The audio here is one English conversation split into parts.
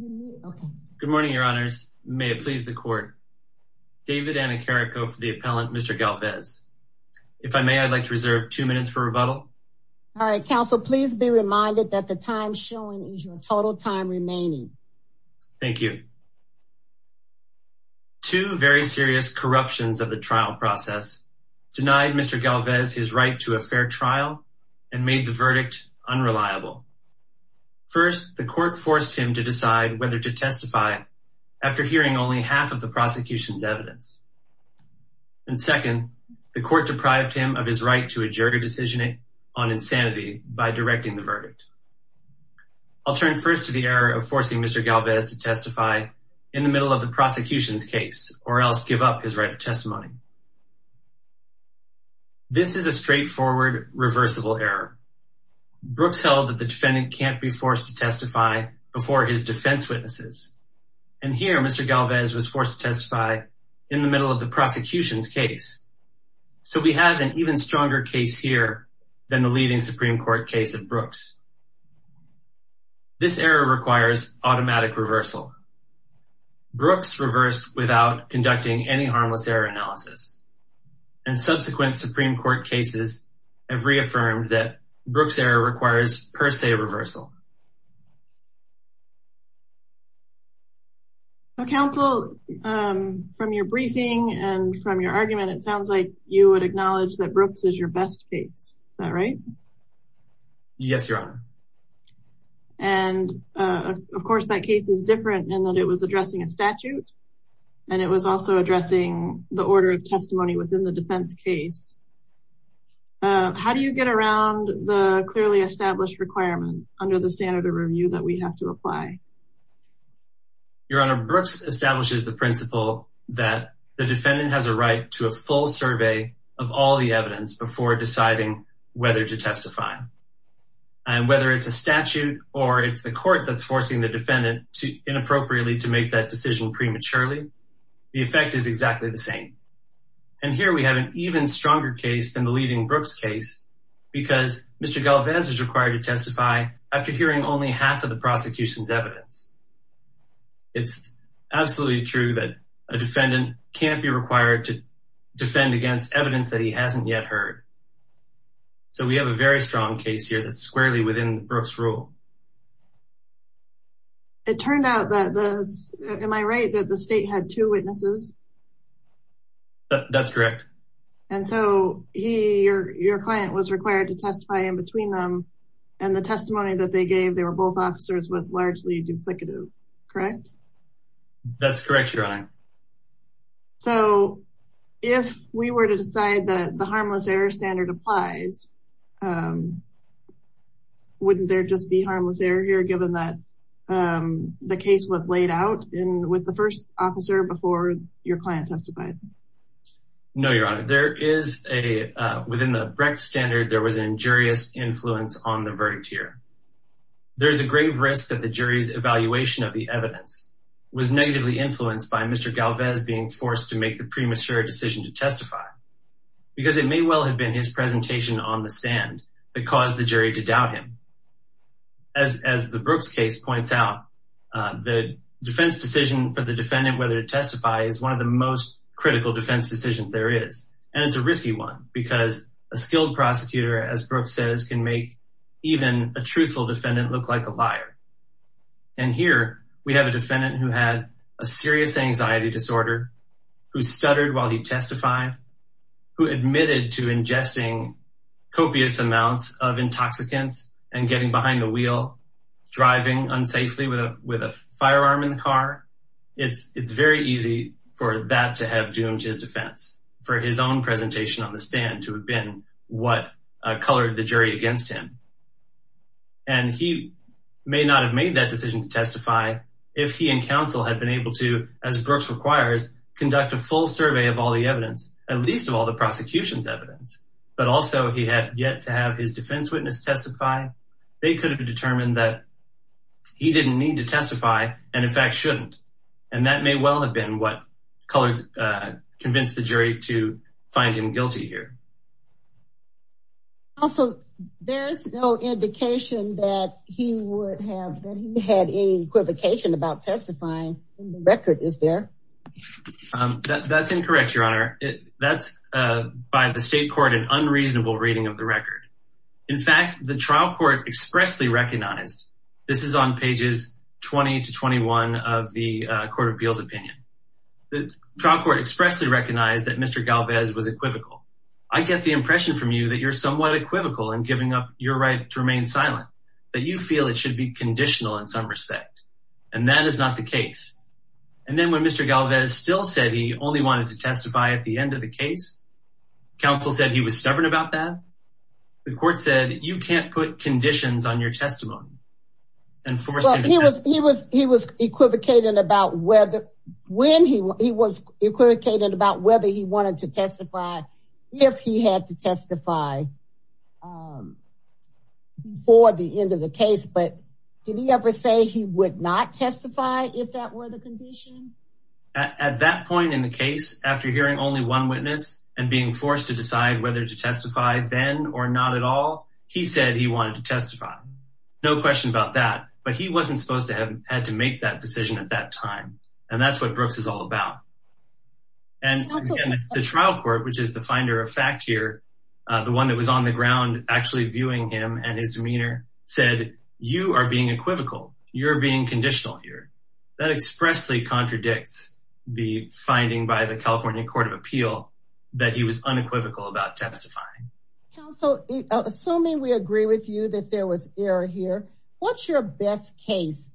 Good morning, your honors. May it please the court. David Anicarico for the appellant, Mr. Galvez. If I may, I'd like to reserve two minutes for rebuttal. All right, counsel, please be reminded that the time showing is your total time remaining. Thank you. Two very serious corruptions of the trial process denied Mr. Galvez his right to a fair trial and made the verdict unreliable. First, the whether to testify after hearing only half of the prosecution's evidence. And second, the court deprived him of his right to a jury decision on insanity by directing the verdict. I'll turn first to the error of forcing Mr. Galvez to testify in the middle of the prosecution's case or else give up his right of testimony. This is a straightforward, reversible error. Brooks held that the prosecution's case was a case of false witnesses. And here, Mr. Galvez was forced to testify in the middle of the prosecution's case. So we have an even stronger case here than the leading Supreme Court case of Brooks. This error requires automatic reversal. Brooks reversed without conducting any harmless error analysis. And subsequent Supreme Court cases have reaffirmed that Brooks error requires per se reversal. Counsel, from your briefing and from your argument, it sounds like you would acknowledge that Brooks is your best case. Is that right? Yes, Your Honor. And, of course, that case is different in that it was addressing a statute. And it was also addressing the order of testimony within the defense case. How do you get around the clearly established requirement under the standard of review that we have to apply? Your Honor, Brooks establishes the principle that the defendant has a right to a full survey of all the evidence before deciding whether to testify. And whether it's a statute or it's the court that's forcing the defendant to inappropriately to make that decision prematurely, the effect is exactly the same. Because Mr. Galvez is required to testify after hearing only half of the prosecution's evidence. It's absolutely true that a defendant can't be required to defend against evidence that he hasn't yet heard. So we have a very strong case here that's squarely within Brooks' rule. It turned out that, am I right, that the state had two witnesses? That's correct. And so your client was required to testify in between them. And the testimony that they gave, they were both officers, was largely duplicative. Correct? That's correct, Your Honor. So if we were to decide that the harmless error standard applies, wouldn't there just be harmless error here, given that the case was laid out with the first officer before your client testified? No, Your Honor. There is a, within the Brecht standard, there was an injurious influence on the verdict here. There's a grave risk that the jury's evaluation of the evidence was negatively influenced by Mr. Galvez being forced to make the premature decision to testify because it may well have been his presentation on the stand that caused the jury to doubt him. As the Brooks case points out, the defense decision for the defendant, whether to testify is one of the most critical defense decisions there is. And it's a risky one because a skilled prosecutor, as Brooks says, can make even a truthful defendant look like a liar. And here we have a defendant who had a serious anxiety disorder, who stuttered while he testified, who admitted to ingesting copious amounts of intoxicants and getting behind the wheel, driving unsafely with a firearm in the car. It's very easy for that to have doomed his defense, for his own presentation on the stand to have been what colored the jury against him. And he may not have made that decision to testify if he and counsel had been able to, as Brooks requires, conduct a full survey of all the evidence, at least of all the prosecution's evidence. But also he had yet to have his defense witness testify. They could have determined that he didn't need to testify and in fact, shouldn't. And that may well have been what colored, convinced the jury to find him guilty here. Also, there's no indication that he would have, that he had any equivocation about testifying in the record, is there? That's incorrect, your honor. That's by the state court, an unreasonable reading of the record. In fact, the trial court expressly recognized, this is on pages 20 to 21 of the court of appeals opinion. The trial court expressly recognized that Mr. Galvez was equivocal. I get the impression from you that you're somewhat equivocal in giving up your right to remain silent, that you feel it should be conditional in some respect, and that is not the case. And then when Mr. Galvez still said he only wanted to testify at the end of the case, counsel said he was stubborn about that. The court said, you can't put conditions on your testimony. Well, he was, he was, he was equivocated about whether, when he was equivocated about whether he wanted to testify, if he had to testify for the end of the case. But did he ever say he would not testify if that were the condition? At that point in the case, after hearing only one witness and being forced to decide whether to testify then or not at all, he said he wanted to testify. No question about that, but he wasn't supposed to have had to make that decision at that time. And that's what Brooks is all about. And the trial court, which is the finder of fact here, the one that was on the ground, actually viewing him and his demeanor said, you are being equivocal. You're being conditional here. That expressly contradicts the finding by the California court of appeal that he was unequivocal about testifying. Counsel, assuming we agree with you that there was error here, what's your best case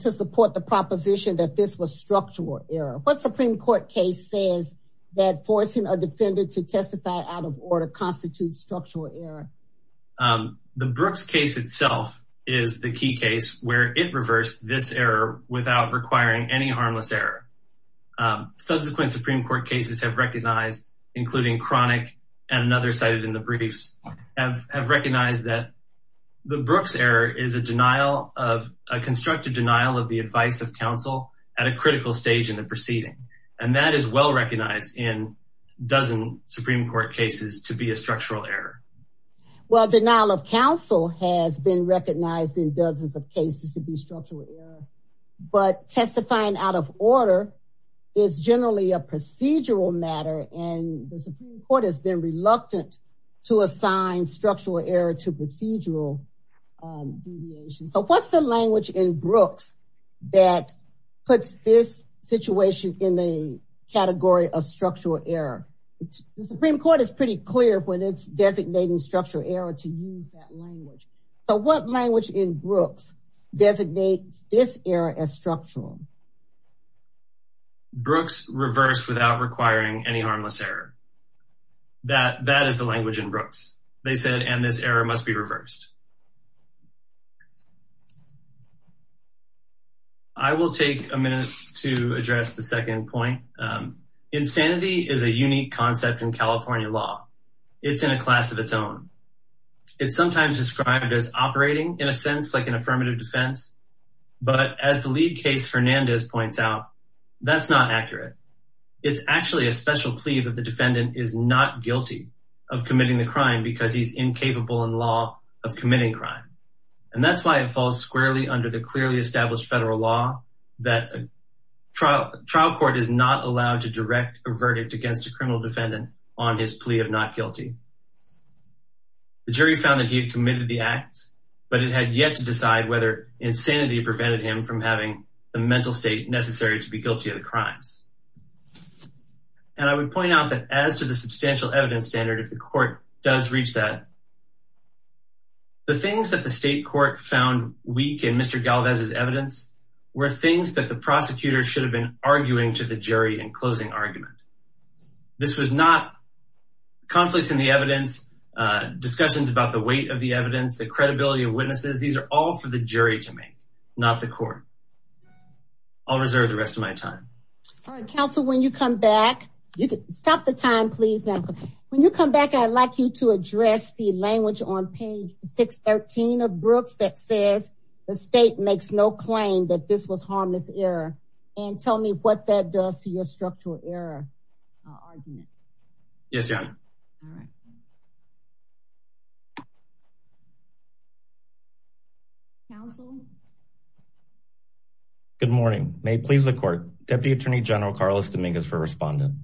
to support the proposition that this was structural error? What Supreme court case says that forcing a defendant to testify out of order constitutes structural error? The Brooks case itself is the key case where it reversed this error without requiring any harmless error. Subsequent Supreme court cases have recognized, including chronic and another cited in the briefs, have recognized that the Brooks error is a denial of, a constructive denial of the advice of counsel at a critical stage in the proceeding, and that is well-recognized in dozen Supreme court cases to be a structural error. Well, denial of counsel has been recognized in dozens of cases to be structural error. But testifying out of order is generally a procedural matter. And the Supreme court has been reluctant to assign structural error to procedural deviation. So what's the language in Brooks that puts this situation in the category of structural error? The Supreme court is pretty clear when it's designating structural error to use that language. So what language in Brooks designates this error as structural? Brooks reversed without requiring any harmless error. That, that is the language in Brooks. They said, and this error must be reversed. I will take a minute to address the second point. Insanity is a unique concept in California law. It's in a class of its own. It's sometimes described as operating in a sense, like an affirmative defense. But as the lead case, Fernandez points out, that's not accurate. It's actually a special plea that the defendant is not guilty of committing the crime because he's incapable in law of committing crime. And that's why it falls squarely under the clearly established federal law that trial trial court is not allowed to direct a verdict against a criminal defendant on his plea of not guilty. The jury found that he had committed the acts, but it had yet to decide whether insanity prevented him from having the mental state necessary to be guilty of the crimes. And I would point out that as to the substantial evidence standard, if the court does reach that, the things that the state court found weak in Mr. Galvez's evidence were things that the prosecutor should have been arguing to the jury in closing argument. This was not conflicts in the evidence, discussions about the weight of the evidence, the credibility of witnesses. These are all for the jury to make, not the court. I'll reserve the rest of my time. All right, counsel, when you come back, you can stop the time, please. Now, when you come back, I'd like you to address the language on page 613 of Brooks that says the state makes no claim that this was harmless error. And tell me what that does to your structural error. I'll argue it. Yes, Your Honor. All right. Counsel. Good morning. May it please the court, Deputy Attorney General, Carlos Dominguez for respondent.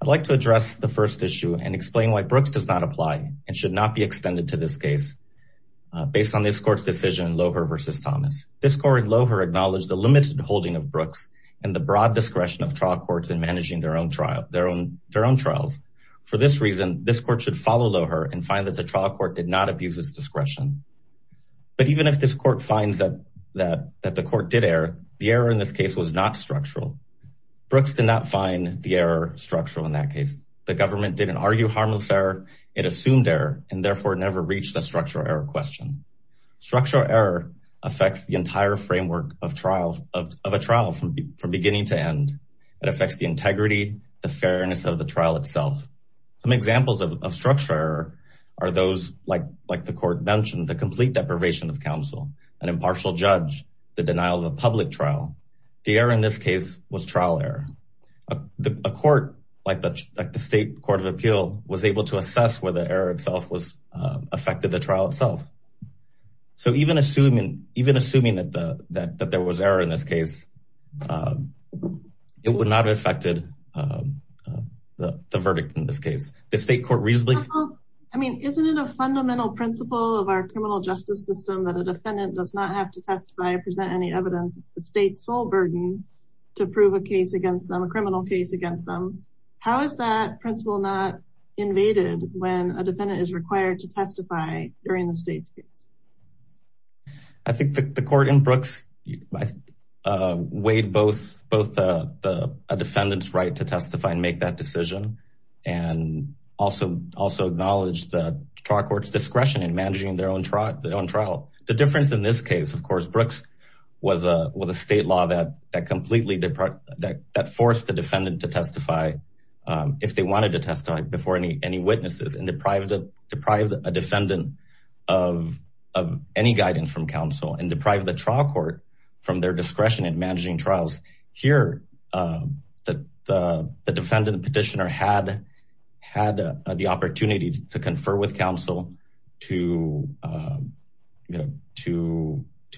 I'd like to address the first issue and explain why Brooks does not apply and should not be extended to this case based on this court's decision in Loehr versus Thomas. This court in Loehr acknowledged the limited holding of Brooks and the broad discretion of trial courts in managing their own trials. For this reason, this court should follow Loehr and find that the trial court did not abuse its discretion. But even if this court finds that the court did error, the error in this case was not structural. Brooks did not find the error structural in that case. The government didn't argue harmless error. It assumed error and therefore never reached a structural error question. Structural error affects the entire framework of a trial from beginning to end, it affects the integrity, the fairness of the trial itself. Some examples of structural error are those like the court mentioned, the complete deprivation of counsel, an impartial judge, the denial of a public trial, the error in this case was trial error, a court like the state court of appeal was able to assess where the error itself affected the trial itself. So even assuming that there was error in this case, it would not have affected the verdict in this case. The state court reasonably. I mean, isn't it a fundamental principle of our criminal justice system that a defendant does not have to testify or present any evidence, it's the state's sole burden to prove a case against them, a criminal case against them. How is that principle not invaded when a defendant is required to testify in this case? I think the court in Brooks weighed both a defendant's right to testify and make that decision and also acknowledged the trial court's discretion in managing their own trial. The difference in this case, of course, Brooks was a state law that forced the defendant to testify if they wanted to testify before any witnesses and deprived a defendant of any guidance from counsel and deprived the trial court from their discretion in managing trials. Here, the defendant petitioner had the opportunity to confer with counsel to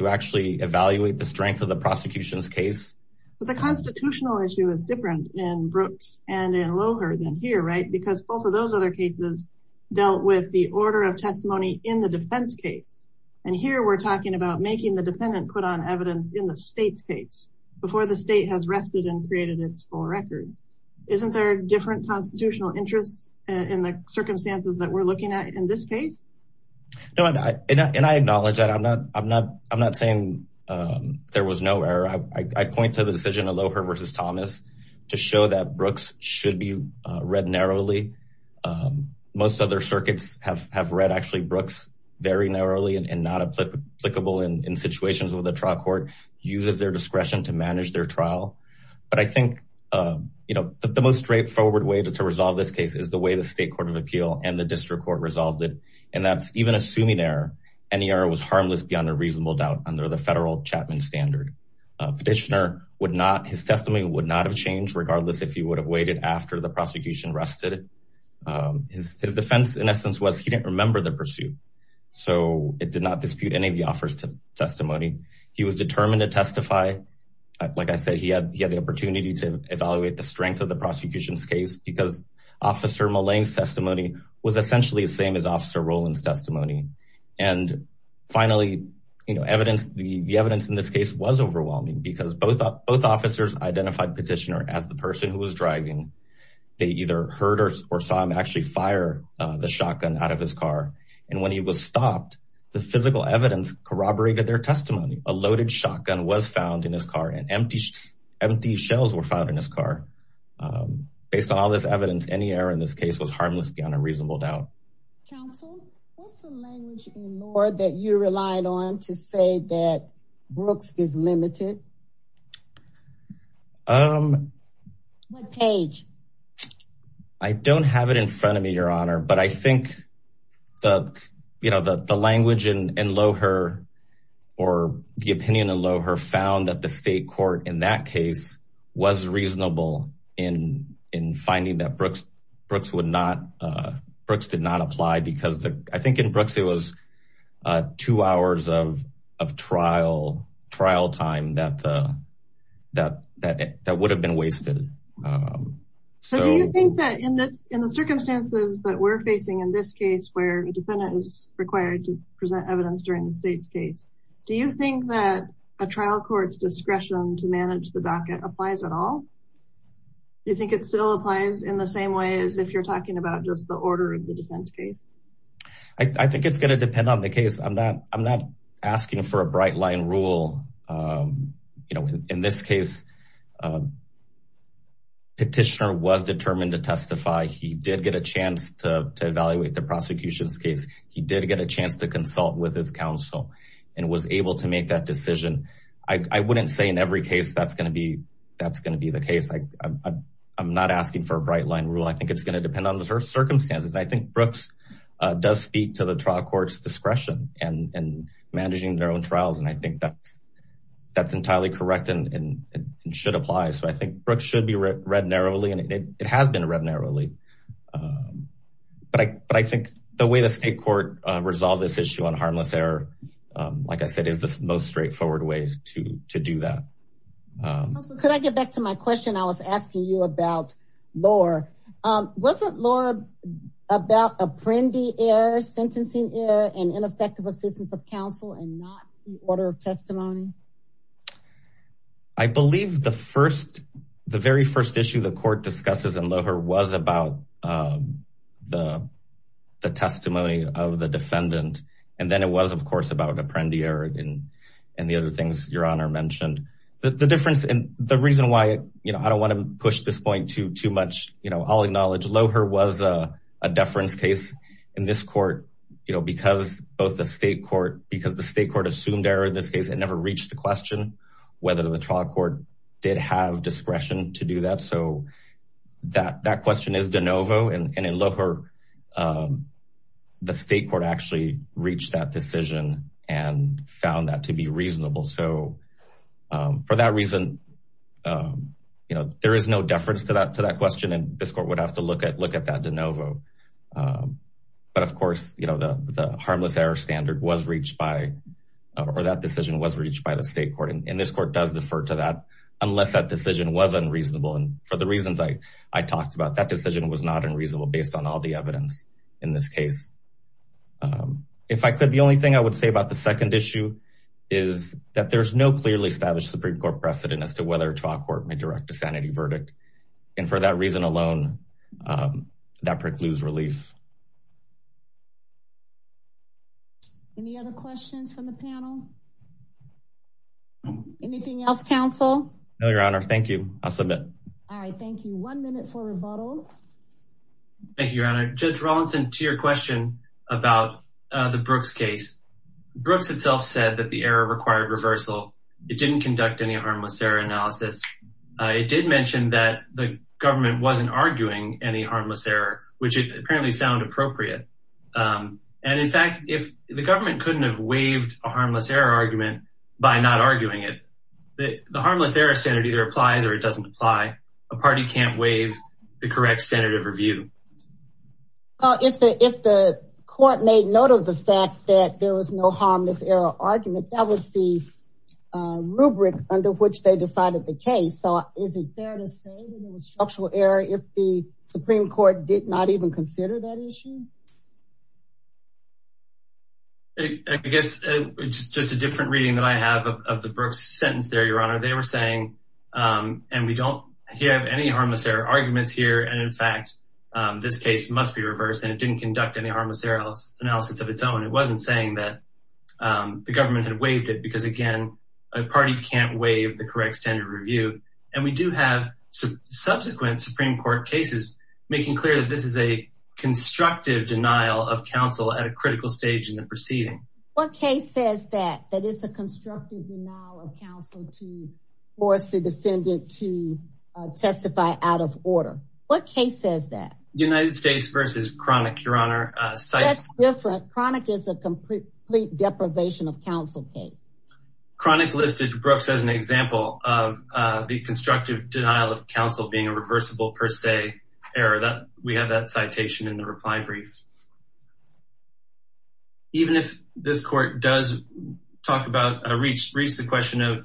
actually evaluate the strength of the prosecution's case. The constitutional issue is different in Brooks and in Loher than here, right? Because both of those other cases dealt with the order of testimony in the defense case, and here we're talking about making the defendant put on evidence in the state's case before the state has rested and created its full record. Isn't there a different constitutional interest in the circumstances that we're looking at in this case? No, and I acknowledge that. I'm not saying there was no error. I point to the decision of Loher versus Thomas to show that Brooks should be read narrowly. Most other circuits have read, actually, Brooks very narrowly and not applicable in situations where the trial court uses their discretion to manage their trial. But I think the most straightforward way to resolve this case is the way the state court of appeal and the district court resolved it, and that's even assuming error. Any error was harmless beyond a reasonable doubt under the federal Chapman standard. Petitioner, his testimony would not have changed regardless if he would have waited after the prosecution rested. His defense, in essence, was he didn't remember the pursuit, so it did not dispute any of the officer's testimony. He was determined to testify. Like I said, he had the opportunity to evaluate the strength of the prosecution's case because Officer Mullane's testimony was essentially the same as Officer Rowland's testimony. And finally, the evidence in this case was overwhelming because both officers identified Petitioner as the person who was driving. They either heard or saw him actually fire the shotgun out of his car. And when he was stopped, the physical evidence corroborated their testimony. A loaded shotgun was found in his car and empty empty shells were found in his car. Based on all this evidence, any error in this case was harmless beyond a reasonable doubt. Counsel, what's the language in Loher that you relied on to say that Brooks is limited? Um, what page? I don't have it in front of me, Your Honor, but I think that, you know, the language in Loher or the opinion in Loher found that the state court in that case was reasonable in in finding that Brooks Brooks would not Brooks did not apply because I think in terms of of trial trial time that the that that that would have been wasted. So do you think that in this in the circumstances that we're facing in this case where a defendant is required to present evidence during the state's case, do you think that a trial court's discretion to manage the back applies at all? Do you think it still applies in the same way as if you're talking about just the order of the defense case? I think it's going to depend on the case. I'm not I'm not asking for a bright line rule. You know, in this case. Petitioner was determined to testify, he did get a chance to evaluate the prosecution's case, he did get a chance to consult with his counsel and was able to make that decision. I wouldn't say in every case that's going to be that's going to be the case. I'm not asking for a bright line rule. I think it's going to depend on the circumstances. And I think Brooks does speak to the trial court's discretion and managing their own trials. And I think that's that's entirely correct and should apply. So I think Brooks should be read narrowly and it has been read narrowly. But I but I think the way the state court resolved this issue on harmless error, like I said, is the most straightforward way to to do that. Could I get back to my question? I was asking you about Lohr. Wasn't Lohr about apprendi error, sentencing error and ineffective assistance of counsel and not the order of testimony? I believe the first the very first issue the court discusses in Lohr was about the the testimony of the defendant. And then it was, of course, about apprendi error and and the other things your honor mentioned. The difference and the reason why I don't want to push this point to too much, you know, I'll acknowledge Lohr was a deference case in this court, you know, because both the state court because the state court assumed error in this case, it never reached the question whether the trial court did have discretion to do that. So that that question is de novo. And in Lohr, the state court actually reached that decision and found that to be reasonable. So for that reason, you know, there is no deference to that to that question. And this court would have to look at look at that de novo. But of course, you know, the harmless error standard was reached by or that decision was reached by the state court. And this court does defer to that unless that decision was unreasonable. And for the reasons I talked about, that decision was not unreasonable based on all the evidence in this case. If I could, the only thing I would say about the second issue is that there's no clearly established Supreme Court precedent as to whether a trial court may direct a sanity verdict. And for that reason alone, that precludes relief. Any other questions from the panel? Anything else, counsel? No, your honor. Thank you. I'll submit. All right. Thank you. One minute for rebuttal. Thank you, your honor. Judge Rawlinson, to your question about the Brooks case, Brooks itself said that the error required reversal. It didn't conduct any harmless error analysis. It did mention that the government wasn't arguing any harmless error, which apparently sound appropriate. And in fact, if the government couldn't have waived a harmless error argument by not arguing it, the harmless error standard either applies or it doesn't apply. A party can't waive the correct standard of review. Well, if the if the court made note of the fact that there was no harmless error argument, that was the rubric under which they decided the case. So is it fair to say that there was structural error if the Supreme Court did not even consider that issue? I guess it's just a different reading that I have of the Brooks sentence there, your honor. They were saying, and we don't have any harmless error arguments here. And in fact, this case must be reversed. And it didn't conduct any harmless error analysis of its own. It wasn't saying that the government had waived it because, again, a party can't waive the correct standard of review. And we do have subsequent Supreme Court cases making clear that this is a constructive denial of counsel at a critical stage in the proceeding. What case says that? That it's a constructive denial of counsel to force the defendant to testify out of court. What case says that? United States v. Cronic, your honor. That's different. Cronic is a complete deprivation of counsel case. Cronic listed Brooks as an example of the constructive denial of counsel being a reversible per se error. We have that citation in the reply brief. Even if this court does talk about a recent question of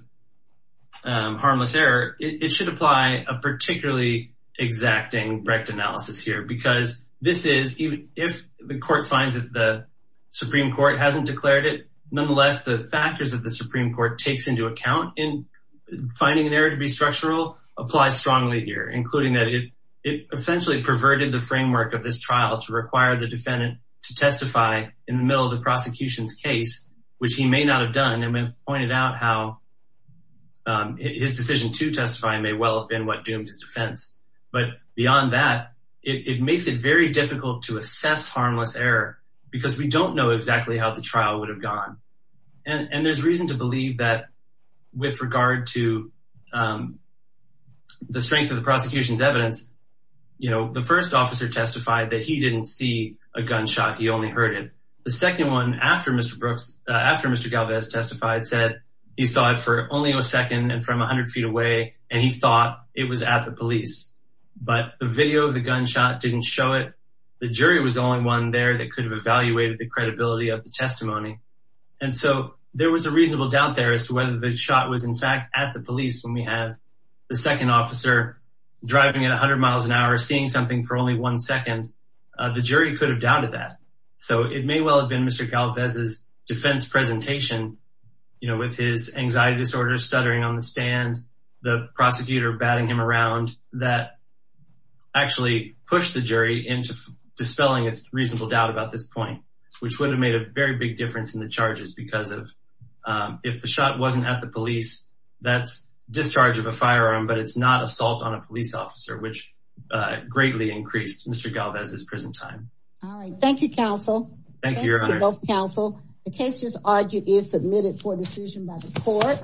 harmless error, it should apply a particularly exacting rect analysis here, because this is if the court finds that the Supreme Court hasn't declared it. Nonetheless, the factors of the Supreme Court takes into account in finding an error to be structural apply strongly here, including that it essentially perverted the framework of this trial to require the defendant to testify in the middle of the prosecution's case, which he may not have done. And we've pointed out how his decision to testify may well have been what doomed his defense. But beyond that, it makes it very difficult to assess harmless error because we don't know exactly how the trial would have gone. And there's reason to believe that with regard to the strength of the prosecution's evidence, you know, the first officer testified that he didn't see a gunshot. He only heard it. The second one, after Mr. Galvez testified, said he saw it for only a second and from a hundred feet away, and he thought it was at the police. But the video of the gunshot didn't show it. The jury was the only one there that could have evaluated the credibility of the testimony. And so there was a reasonable doubt there as to whether the shot was, in fact, at the police when we have the second officer driving at a hundred miles an hour seeing something for only one second. The jury could have doubted that. So it may well have been Mr. Galvez's defense presentation, you know, with his anxiety disorder, stuttering on the stand, the prosecutor batting him around that actually pushed the jury into dispelling its reasonable doubt about this point, which would have made a very big difference in the charges because of if the shot wasn't at the police, that's discharge of a firearm, but it's not assault on a police officer, which greatly increased Mr. Galvez's prison time. All right. Thank you, counsel. Thank you, counsel. The case is argued is submitted for decision by the court.